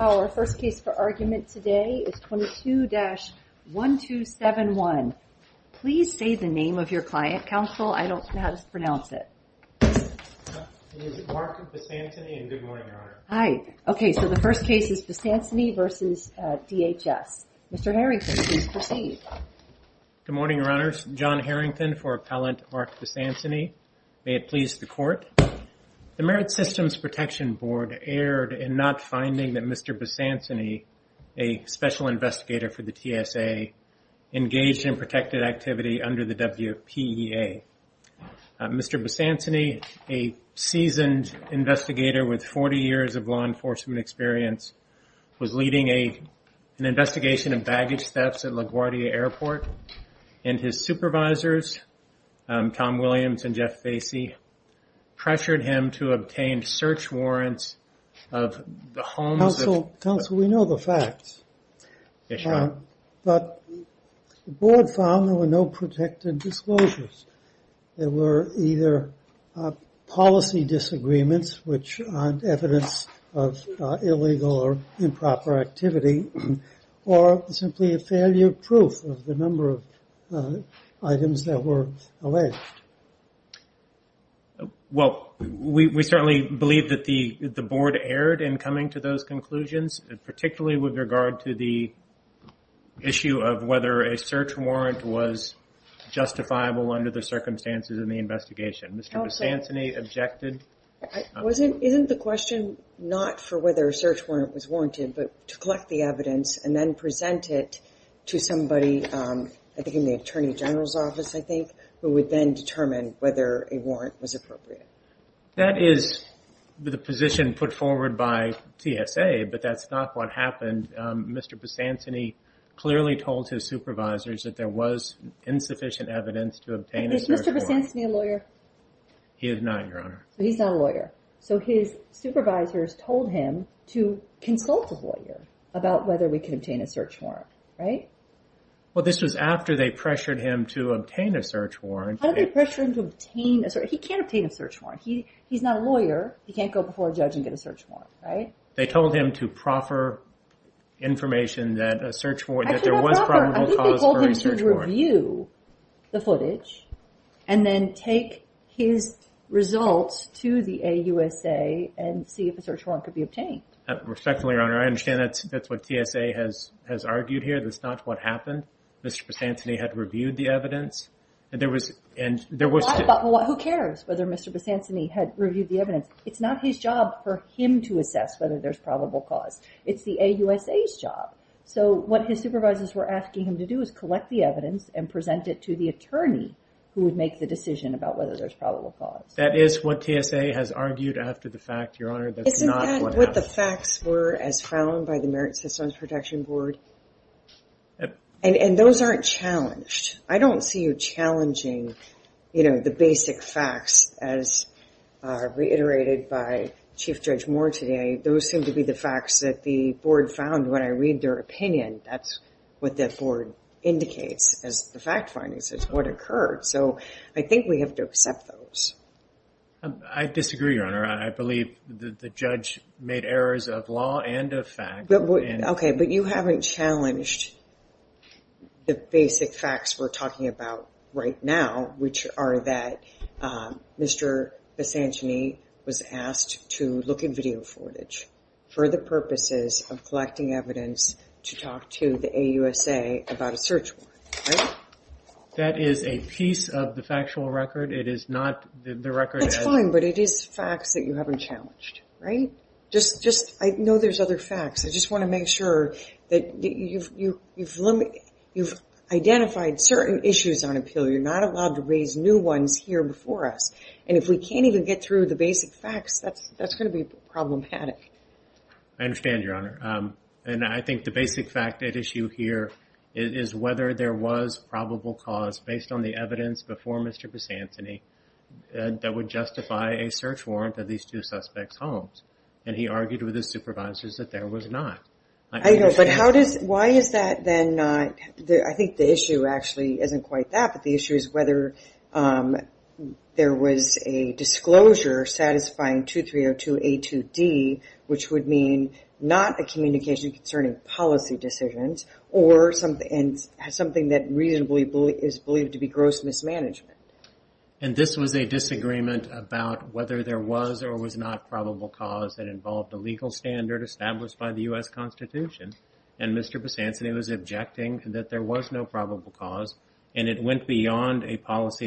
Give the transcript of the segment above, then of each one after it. Our first case for argument today is 22-1271. Please say the name of your client, counsel. I don't know how to pronounce it. His name is Mark Besanceney, and good morning, Your Honor. Hi. Okay, so the first case is Besanceney v. DHS. Mr. Harrington, please proceed. Good morning, Your Honors. John Harrington for appellant Mark Besanceney. May it please the Court that I present Mr. Besanceney, a special investigator for the TSA, engaged in protected activity under the WPEA. Mr. Besanceney, a seasoned investigator with 40 years of law enforcement experience, was leading an investigation of baggage thefts at LaGuardia Airport, and his supervisors, Tom Williams and Jeff Facey, pressured him to obtain search warrants of the council. We know the facts, but the board found there were no protected disclosures. There were either policy disagreements, which aren't evidence of illegal or improper activity, or simply a failure proof of the number of items that were alleged. Well, we certainly believe that the board erred in coming to those conclusions, particularly with regard to the issue of whether a search warrant was justifiable under the circumstances in the investigation. Mr. Besanceney objected. Wasn't, isn't the question not for whether a search warrant was warranted, but to collect the evidence and then present it to somebody, I think in the Attorney General's office, I think, who would then determine whether a warrant was appropriate. That is the position put forward by TSA, but that's not what happened. Mr. Besanceney clearly told his supervisors that there was insufficient evidence to obtain a search warrant. Is Mr. Besanceney a lawyer? He is not, Your Honor. So he's not a lawyer. So his supervisors told him to consult a lawyer about whether we could obtain a search warrant. How did they pressure him to obtain a search warrant? He can't obtain a search warrant. He's not a lawyer. He can't go before a judge and get a search warrant, right? They told him to proffer information that a search warrant, that there was probable cause for a search warrant. I think they told him to review the footage and then take his results to the AUSA and see if a search warrant could be obtained. Respectfully, Your Honor, I understand that's what TSA has argued here. That's not what happened. Mr. Besanceney had reviewed the evidence. Who cares whether Mr. Besanceney had reviewed the evidence? It's not his job for him to assess whether there's probable cause. It's the AUSA's job. So what his supervisors were asking him to do is collect the evidence and present it to the attorney who would make the decision about whether there's probable cause. That is what TSA has argued after the fact, Your Honor. That's not what the facts were as found by the Merit Systems Protection Board. And those aren't challenged. I don't see you challenging, you know, the basic facts as reiterated by Chief Judge Moore today. Those seem to be the facts that the board found when I read their opinion. That's what the board indicates as the fact findings, is what occurred. So I think we have to accept those. I disagree, Your Honor. I believe that the judge made errors of law and of fact. Okay, but you haven't challenged the basic facts we're talking about right now, which are that Mr. Besanceney was asked to look at video footage for the purposes of collecting evidence to talk to the AUSA about a search warrant, right? That is a piece of the factual record. It is not the record. That's fine, but it is facts that you haven't challenged, right? I know there's other facts. I just want to make sure that you've identified certain issues on appeal. You're not allowed to raise new ones here before us. And if we can't even get through the basic facts, that's going to be problematic. I understand, Your Honor. And I think the basic fact at issue here is whether there was probable cause based on the evidence before Mr. Besanceney that would justify a search warrant of these two suspects' homes. And he argued with his supervisors that there was not. I know, but how does, why is that then not there? I think the issue actually isn't quite that, but the issue is whether there was a disclosure satisfying 2302A2D, which would mean not a communication concerning policy decisions, or something that reasonably is believed to be gross mismanagement. And this was a disagreement about whether there was or was not probable cause that involved a legal standard established by the U.S. Constitution. And Mr. Besanceney was objecting that there was no policy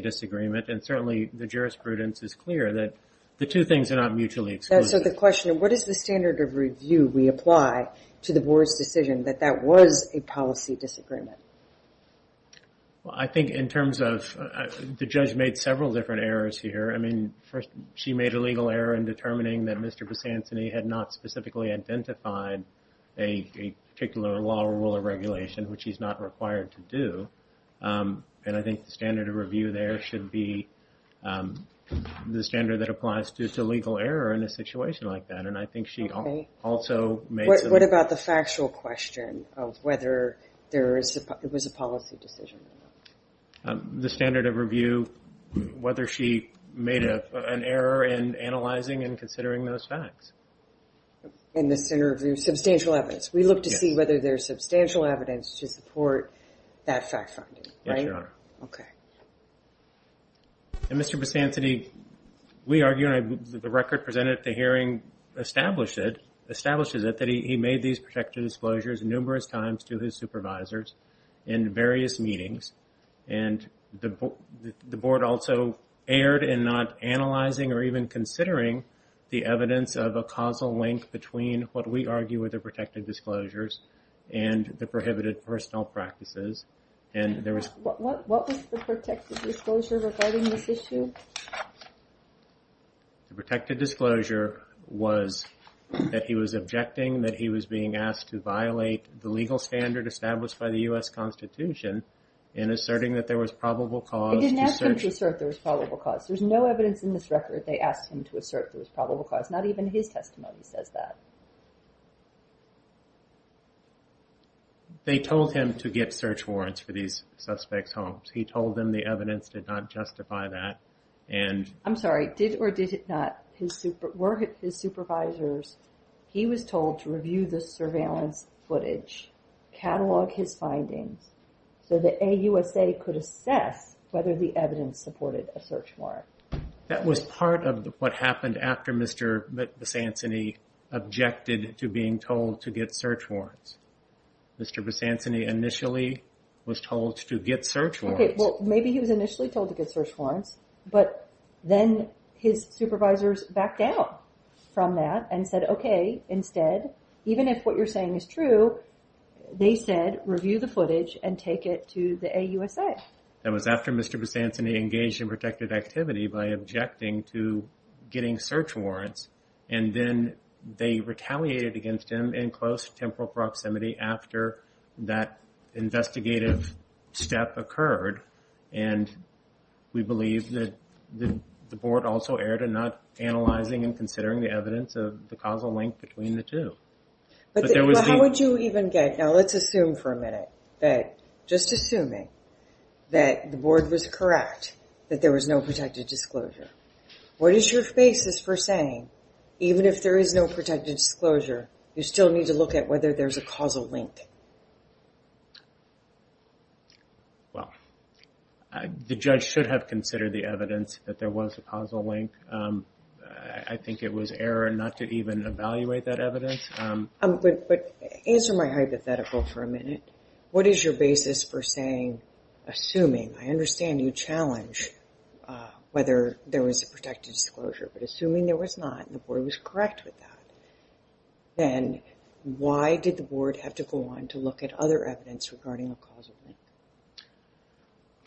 disagreement. And certainly the jurisprudence is clear that the two things are not mutually exclusive. So the question, what is the standard of review we apply to the board's decision that that was a policy disagreement? Well, I think in terms of, the judge made several different errors here. I mean, first, she made a legal error in determining that Mr. Besanceney had not specifically identified a particular law, rule, or regulation, which he's not required to do. And I think the standard of review there should be the standard that applies to legal error in a situation like that. And I think she also made... What about the factual question of whether it was a policy decision? The standard of review, whether she made an error in analyzing and considering those facts. And the standard of review, substantial evidence. We look to see whether there's substantial evidence to support that fact finding, right? Yes, Your Honor. Okay. And Mr. Besanceney, we argue, and the record presented at the hearing establishes it, that he made these protective disclosures numerous times to his supervisors in various meetings. And the board also erred in not analyzing or even considering the evidence of a causal link between what we call prohibited personal practices. And there was... What was the protected disclosure regarding this issue? The protected disclosure was that he was objecting that he was being asked to violate the legal standard established by the U.S. Constitution in asserting that there was probable cause... They didn't ask him to assert there was probable cause. There's no evidence in this record they asked him to assert there was probable cause. Not even his testimony says that. They told him to get search warrants for these suspects' homes. He told them the evidence did not justify that. And... I'm sorry, did or did it not? Were his supervisors... He was told to review the surveillance footage, catalog his findings, so the AUSA could assess whether the evidence supported a search warrant. That was part of what happened after Mr. Besanceney objected to being searched. Mr. Besanceney initially was told to get search warrants. Okay, well maybe he was initially told to get search warrants, but then his supervisors backed down from that and said, okay, instead, even if what you're saying is true, they said review the footage and take it to the AUSA. That was after Mr. Besanceney engaged in protected activity by objecting to getting search warrants. And then they retaliated against him in close temporal proximity after that investigative step occurred. And we believe that the board also erred in not analyzing and considering the evidence of the causal link between the two. But how would you even get... Now let's assume for a minute that, just assuming, that the board was correct, that there was no protected disclosure. What is your basis for saying, even if there is no protected disclosure, you still need to look at whether there's a causal link? Well, the judge should have considered the evidence that there was a causal link. I think it was error not to even evaluate that evidence. But answer my hypothetical for a minute. What is your basis for saying, assuming, I understand you challenge whether there was a protected disclosure, but assuming there was not and the board was correct with that, then why did the board have to go on to look at other evidence regarding a causal link?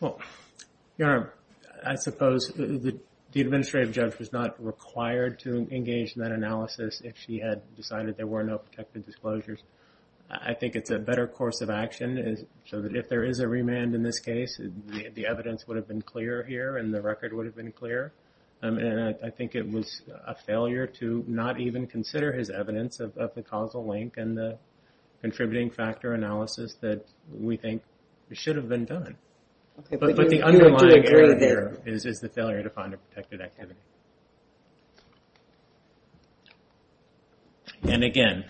Well, Your Honor, I suppose the administrative judge was not required to engage in that analysis if she had decided there were no protected disclosures. I think it's a better course of action so that if there is a remand in this case, the evidence would have been clear here and the record would have been clear. And I think it was a failure to not even consider his evidence of the causal link and the contributing factor analysis that we think should have been done. But the underlying error there is the failure to find a protected activity. And again,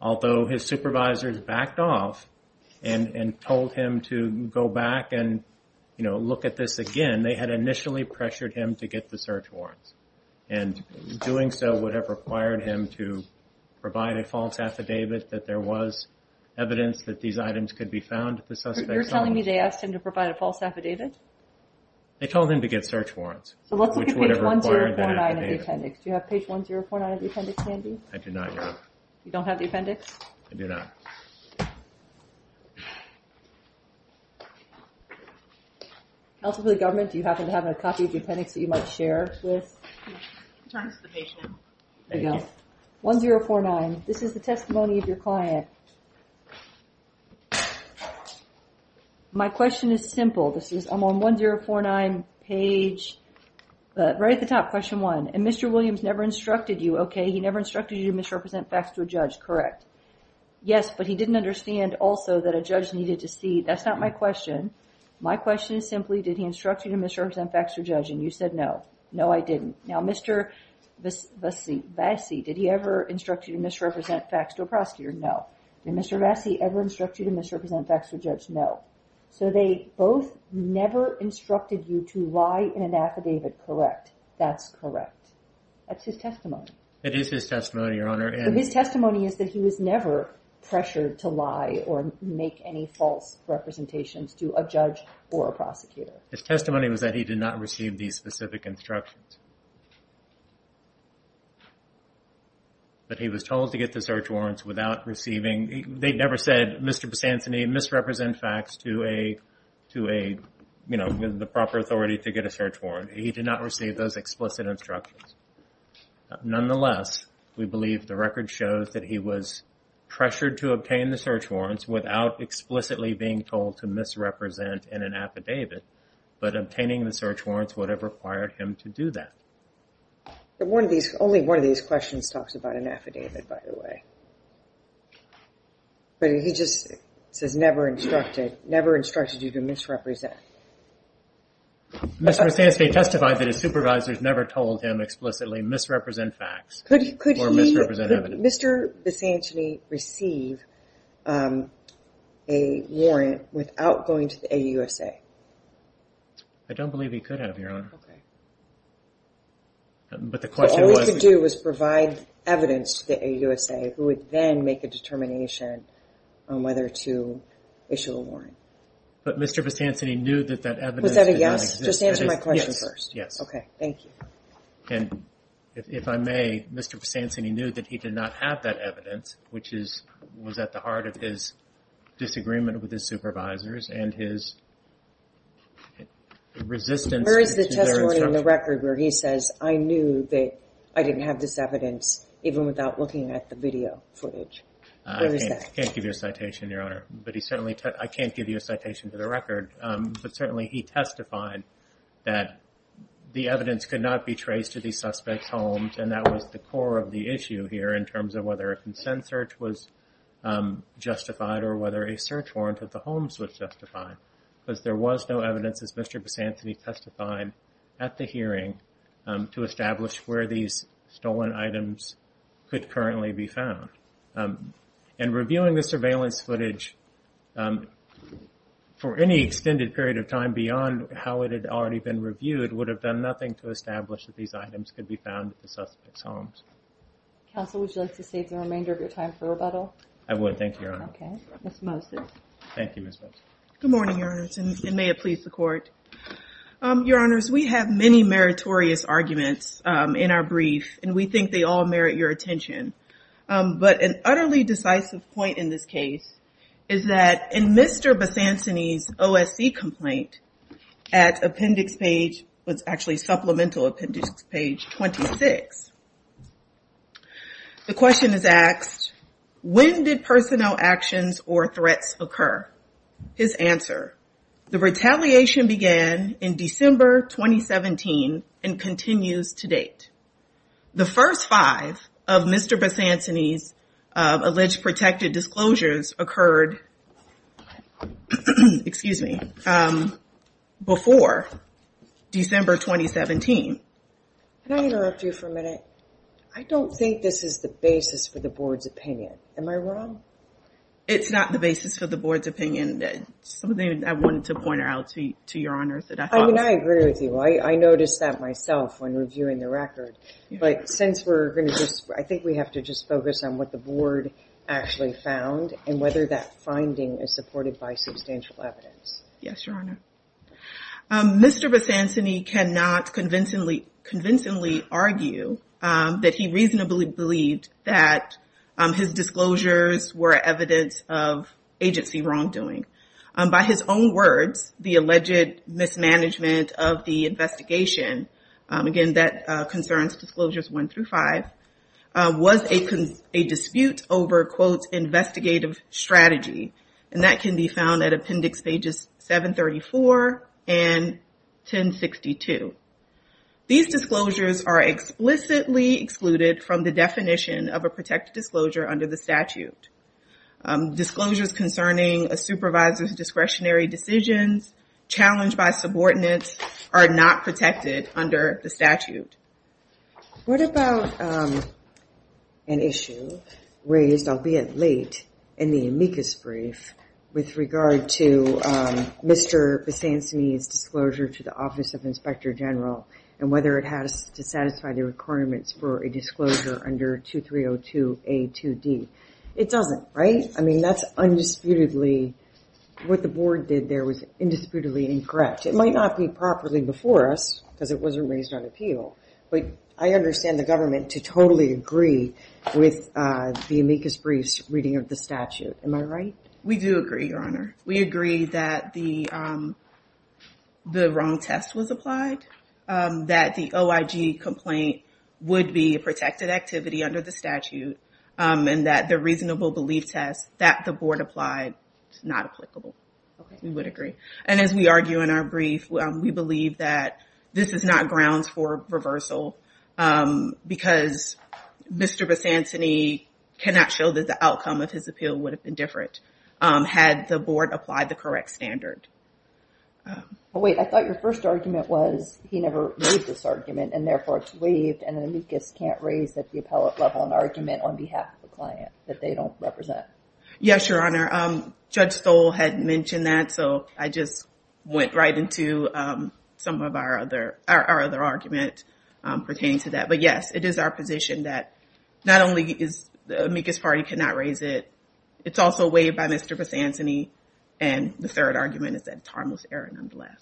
although his supervisors backed off and told him to go back and, you know, look at this again, they had initially pressured him to get the search warrants. And doing so would have required him to provide a false affidavit that there was evidence that these items could be found at the suspect's home. You're telling me they asked him to provide a false affidavit? They told him to get search warrants. So let's look at page 1049 of the appendix. Do you have page 1049 of the appendix, Andy? I do not, Your Honor. You don't have the appendix? I do not. Counsel for the government, do you happen to have a copy of the appendix that you might share with? I'm trying to see the page now. There you go. 1049, this is the testimony of your client. Okay. My question is simple. This is on 1049 page, right at the top, question one. And Mr. Williams never instructed you, okay? He never instructed you to misrepresent facts to a judge, correct? Yes, but he didn't understand also that a judge needed to see. That's not my question. My question is simply, did he instruct you to misrepresent facts to a judge and you said no? No, I didn't. Now, Mr. Bassi, did he ever instruct you to misrepresent facts to a prosecutor? No. Did Mr. Bassi ever instruct you to misrepresent facts to a judge? No. So they both never instructed you to lie in an affidavit, correct? That's correct. That's his testimony. It is his testimony, Your Honor. His testimony is that he was never pressured to lie or make any false representations to a judge or a prosecutor. His testimony was that he did not receive these specific instructions. But he was told to get the search warrants without receiving... They never said, Mr. Bassantini, misrepresent facts to a, you know, the proper authority to get a search warrant. He did not receive those explicit instructions. Nonetheless, we believe the record shows that he was pressured to obtain the search warrants without explicitly being told to misrepresent in an affidavit, but obtaining the search warrants would have required him to do that. But one of these, only one of these questions talks about an affidavit, by the way. But he just says never instructed, never instructed you to misrepresent. Mr. Bassantini testified that his supervisors never told him explicitly misrepresent facts. Could he, could Mr. Bassantini receive a warrant without going to the AUSA? Okay. But the question was... All we could do was provide evidence to the AUSA, who would then make a determination on whether to issue a warrant. But Mr. Bassantini knew that that evidence... Was that a yes? Just answer my question first. Yes. Okay, thank you. And if I may, Mr. Bassantini knew that he did not have that evidence, which is, was at the heart of his disagreement with his supervisors and his resistance... Where is the testimony in the record where he says, I knew that I didn't have this evidence even without looking at the video footage? I can't give you a citation, Your Honor. But he certainly, I can't give you a citation to the record. But certainly he testified that the evidence could not be traced to the suspect's homes. And that was the core of the issue here in terms of whether a consent search was justified or whether a search warrant at the homes was justified. Because there was no evidence, as Mr. Bassantini testified at the hearing, to establish where these stolen items could currently be found. And reviewing the surveillance footage for any extended period of time beyond how it had already been reviewed would have done nothing to establish that these items could be found at the suspect's homes. Counsel, would you like to save the remainder of your time for rebuttal? I would, thank you, Your Honor. Okay. Ms. Moses. Thank you, Ms. Moses. Good morning, Your Honors, and may it please the Court. Your Honors, we have many meritorious arguments in our brief, and we think they all merit your attention. But an utterly decisive point in this case is that in Mr. Bassantini's OSC complaint at appendix page, what's actually supplemental appendix page 26, the question is asked, when did personnel actions or threats occur? His answer, the retaliation began in December 2017 and continues to date. The first five of Mr. Bassantini's alleged protected disclosures occurred excuse me, before December 2017. Can I interrupt you for a minute? I don't think this is the basis for the Board's opinion. Am I wrong? It's not the basis for the Board's opinion. Something I wanted to point out to Your Honors. I mean, I agree with you. I noticed that myself when reviewing the record. But since we're going to just, I think we have to just focus on what the Board actually found and whether that finding is supported by substantial evidence. Yes, Your Honor. Mr. Bassantini cannot convincingly argue that he reasonably believed that his disclosures were evidence of agency wrongdoing. By his own words, the alleged mismanagement of the investigation, again, that concerns disclosures one through five, was a dispute over, quote, investigative strategy. And that can be found at appendix pages 734 and 1062. These disclosures are explicitly excluded from the definition of a protected disclosure under the statute. Disclosures concerning a supervisor's discretionary decisions challenged by subordinates are not protected under the statute. What about an issue raised, albeit late, in the amicus brief with regard to Mr. Bassantini's disclosure to the Office of Inspector General and whether it has to satisfy the requirements for a disclosure under 2302A2D? It doesn't, right? I mean, that's undisputedly what the Board did there was indisputably incorrect. It might not be properly before us because it wasn't raised on appeal, but I understand the government to totally agree with the amicus brief's reading of the statute. Am I right? We do agree, Your Honor. We agree that the wrong test was applied, that the OIG complaint would be a protected activity under the statute, and that the reasonable belief test that the Board applied is not applicable. We would agree. And as we argue in our brief, we believe that this is not grounds for reversal because Mr. Bassantini cannot show that the outcome of his appeal would have been different had the Board applied the correct standard. Oh, wait. I thought your first argument was he never made this argument and therefore it's waived and an amicus can't raise at the appellate level an argument on behalf of the client that they don't represent. Yes, Your Honor. Judge Stoll had mentioned that, so I just went right into some of our other argument pertaining to that. But yes, it is our position that not only is the amicus party cannot raise it, it's also waived by Mr. Bassantini and the third argument is that it's harmless error nonetheless.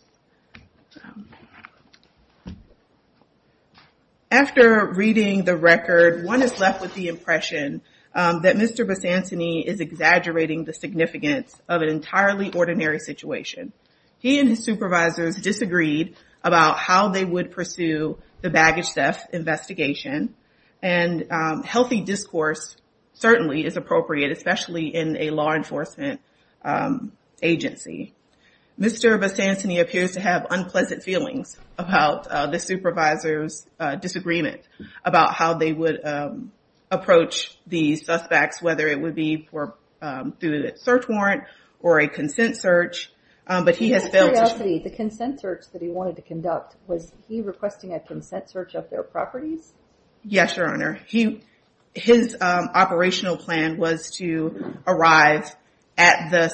After reading the record, one is left with the impression that Mr. Bassantini is exaggerating the significance of an entirely ordinary situation. He and his supervisors disagreed about how they would pursue the baggage theft investigation and healthy discourse certainly is appropriate, especially in a law enforcement agency. Mr. Bassantini appears to have unpleasant feelings about the supervisor's disagreement about how they would approach the suspects, whether it would be through a search warrant or a consent search. But he has failed to... The consent search that he wanted to conduct, was he requesting a consent search of their properties? Yes, Your Honor. His operational plan was to arrive at the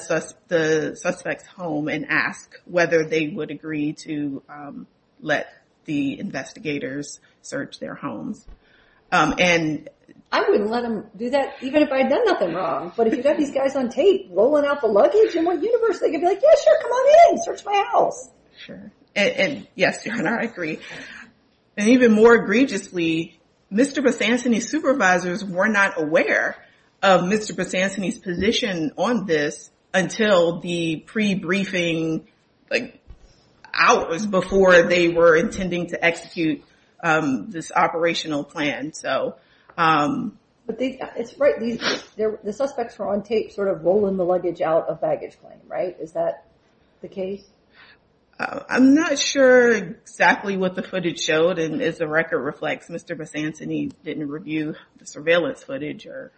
suspect's home and ask whether they would agree to let the investigators search their homes. I wouldn't let them do that even if I'd done nothing wrong. But if you've got these guys on tape rolling out the luggage, in what universe they could be like, yeah, sure, come on in, search my house. Sure. And yes, Your Honor, I agree. And even more egregiously, Mr. Bassantini's supervisors were not aware of Mr. Bassantini's position on this until the pre-briefing hours before they were intending to execute this operational plan. The suspects were on tape rolling the luggage out of baggage claim, right? Is that the case? I'm not sure exactly what the footage showed. And as the record reflects, Mr. Bassantini didn't review the surveillance footage or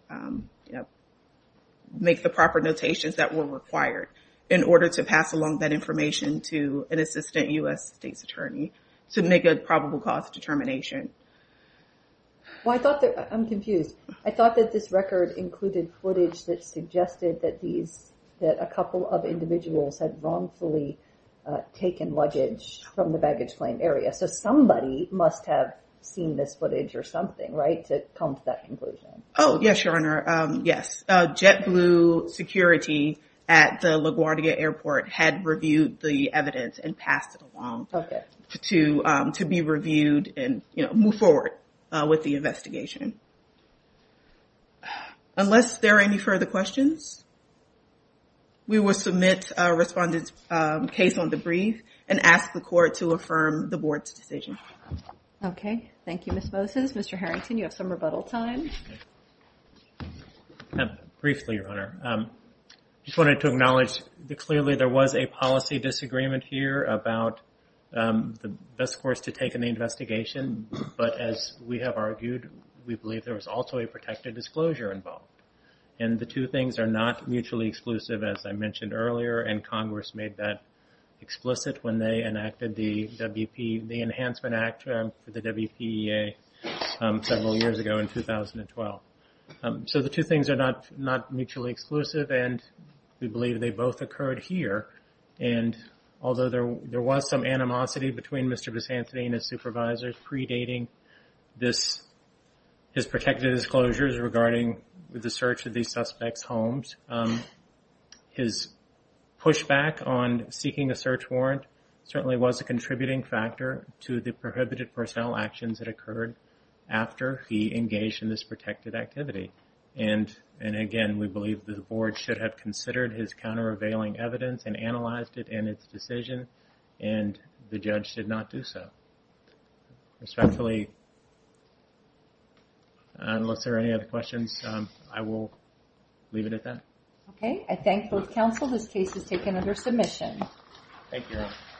make the proper notations that were required in order to pass along that information to an assistant U.S. state's attorney to make a probable cause determination. Well, I thought that... I'm confused. I thought that this record included footage that suggested that these... wrongfully taken luggage from the baggage claim area. So somebody must have seen this footage or something, right? To come to that conclusion. Oh, yes, Your Honor. Yes. JetBlue Security at the LaGuardia airport had reviewed the evidence and passed it along to be reviewed and move forward with the investigation. Unless there are any further questions, we will submit a respondent's case on the brief and ask the court to affirm the board's decision. Okay. Thank you, Ms. Moses. Mr. Harrington, you have some rebuttal time. Briefly, Your Honor. Just wanted to acknowledge that clearly there was a policy disagreement here about the best course to take in the investigation. But as we have argued, we believe there was also a protected disclosure involved. And the two things are not mutually exclusive, as I mentioned earlier. And Congress made that explicit when they enacted the WP... the Enhancement Act for the WPEA several years ago in 2012. So the two things are not mutually exclusive. And we believe they both occurred here. And although there was some animosity between Mr. Bisantoni and his supervisors predating his protected disclosures regarding the search of these suspects' homes, his pushback on seeking a search warrant certainly was a contributing factor to the prohibited personnel actions that occurred after he engaged in this protected activity. And again, we believe the board should have considered his counter-revealing evidence and analyzed it in its decision. And the judge did not do so. Respectfully, unless there are any other questions, I will leave it at that. Okay, I thank both counsel. This case is taken under submission. Thank you.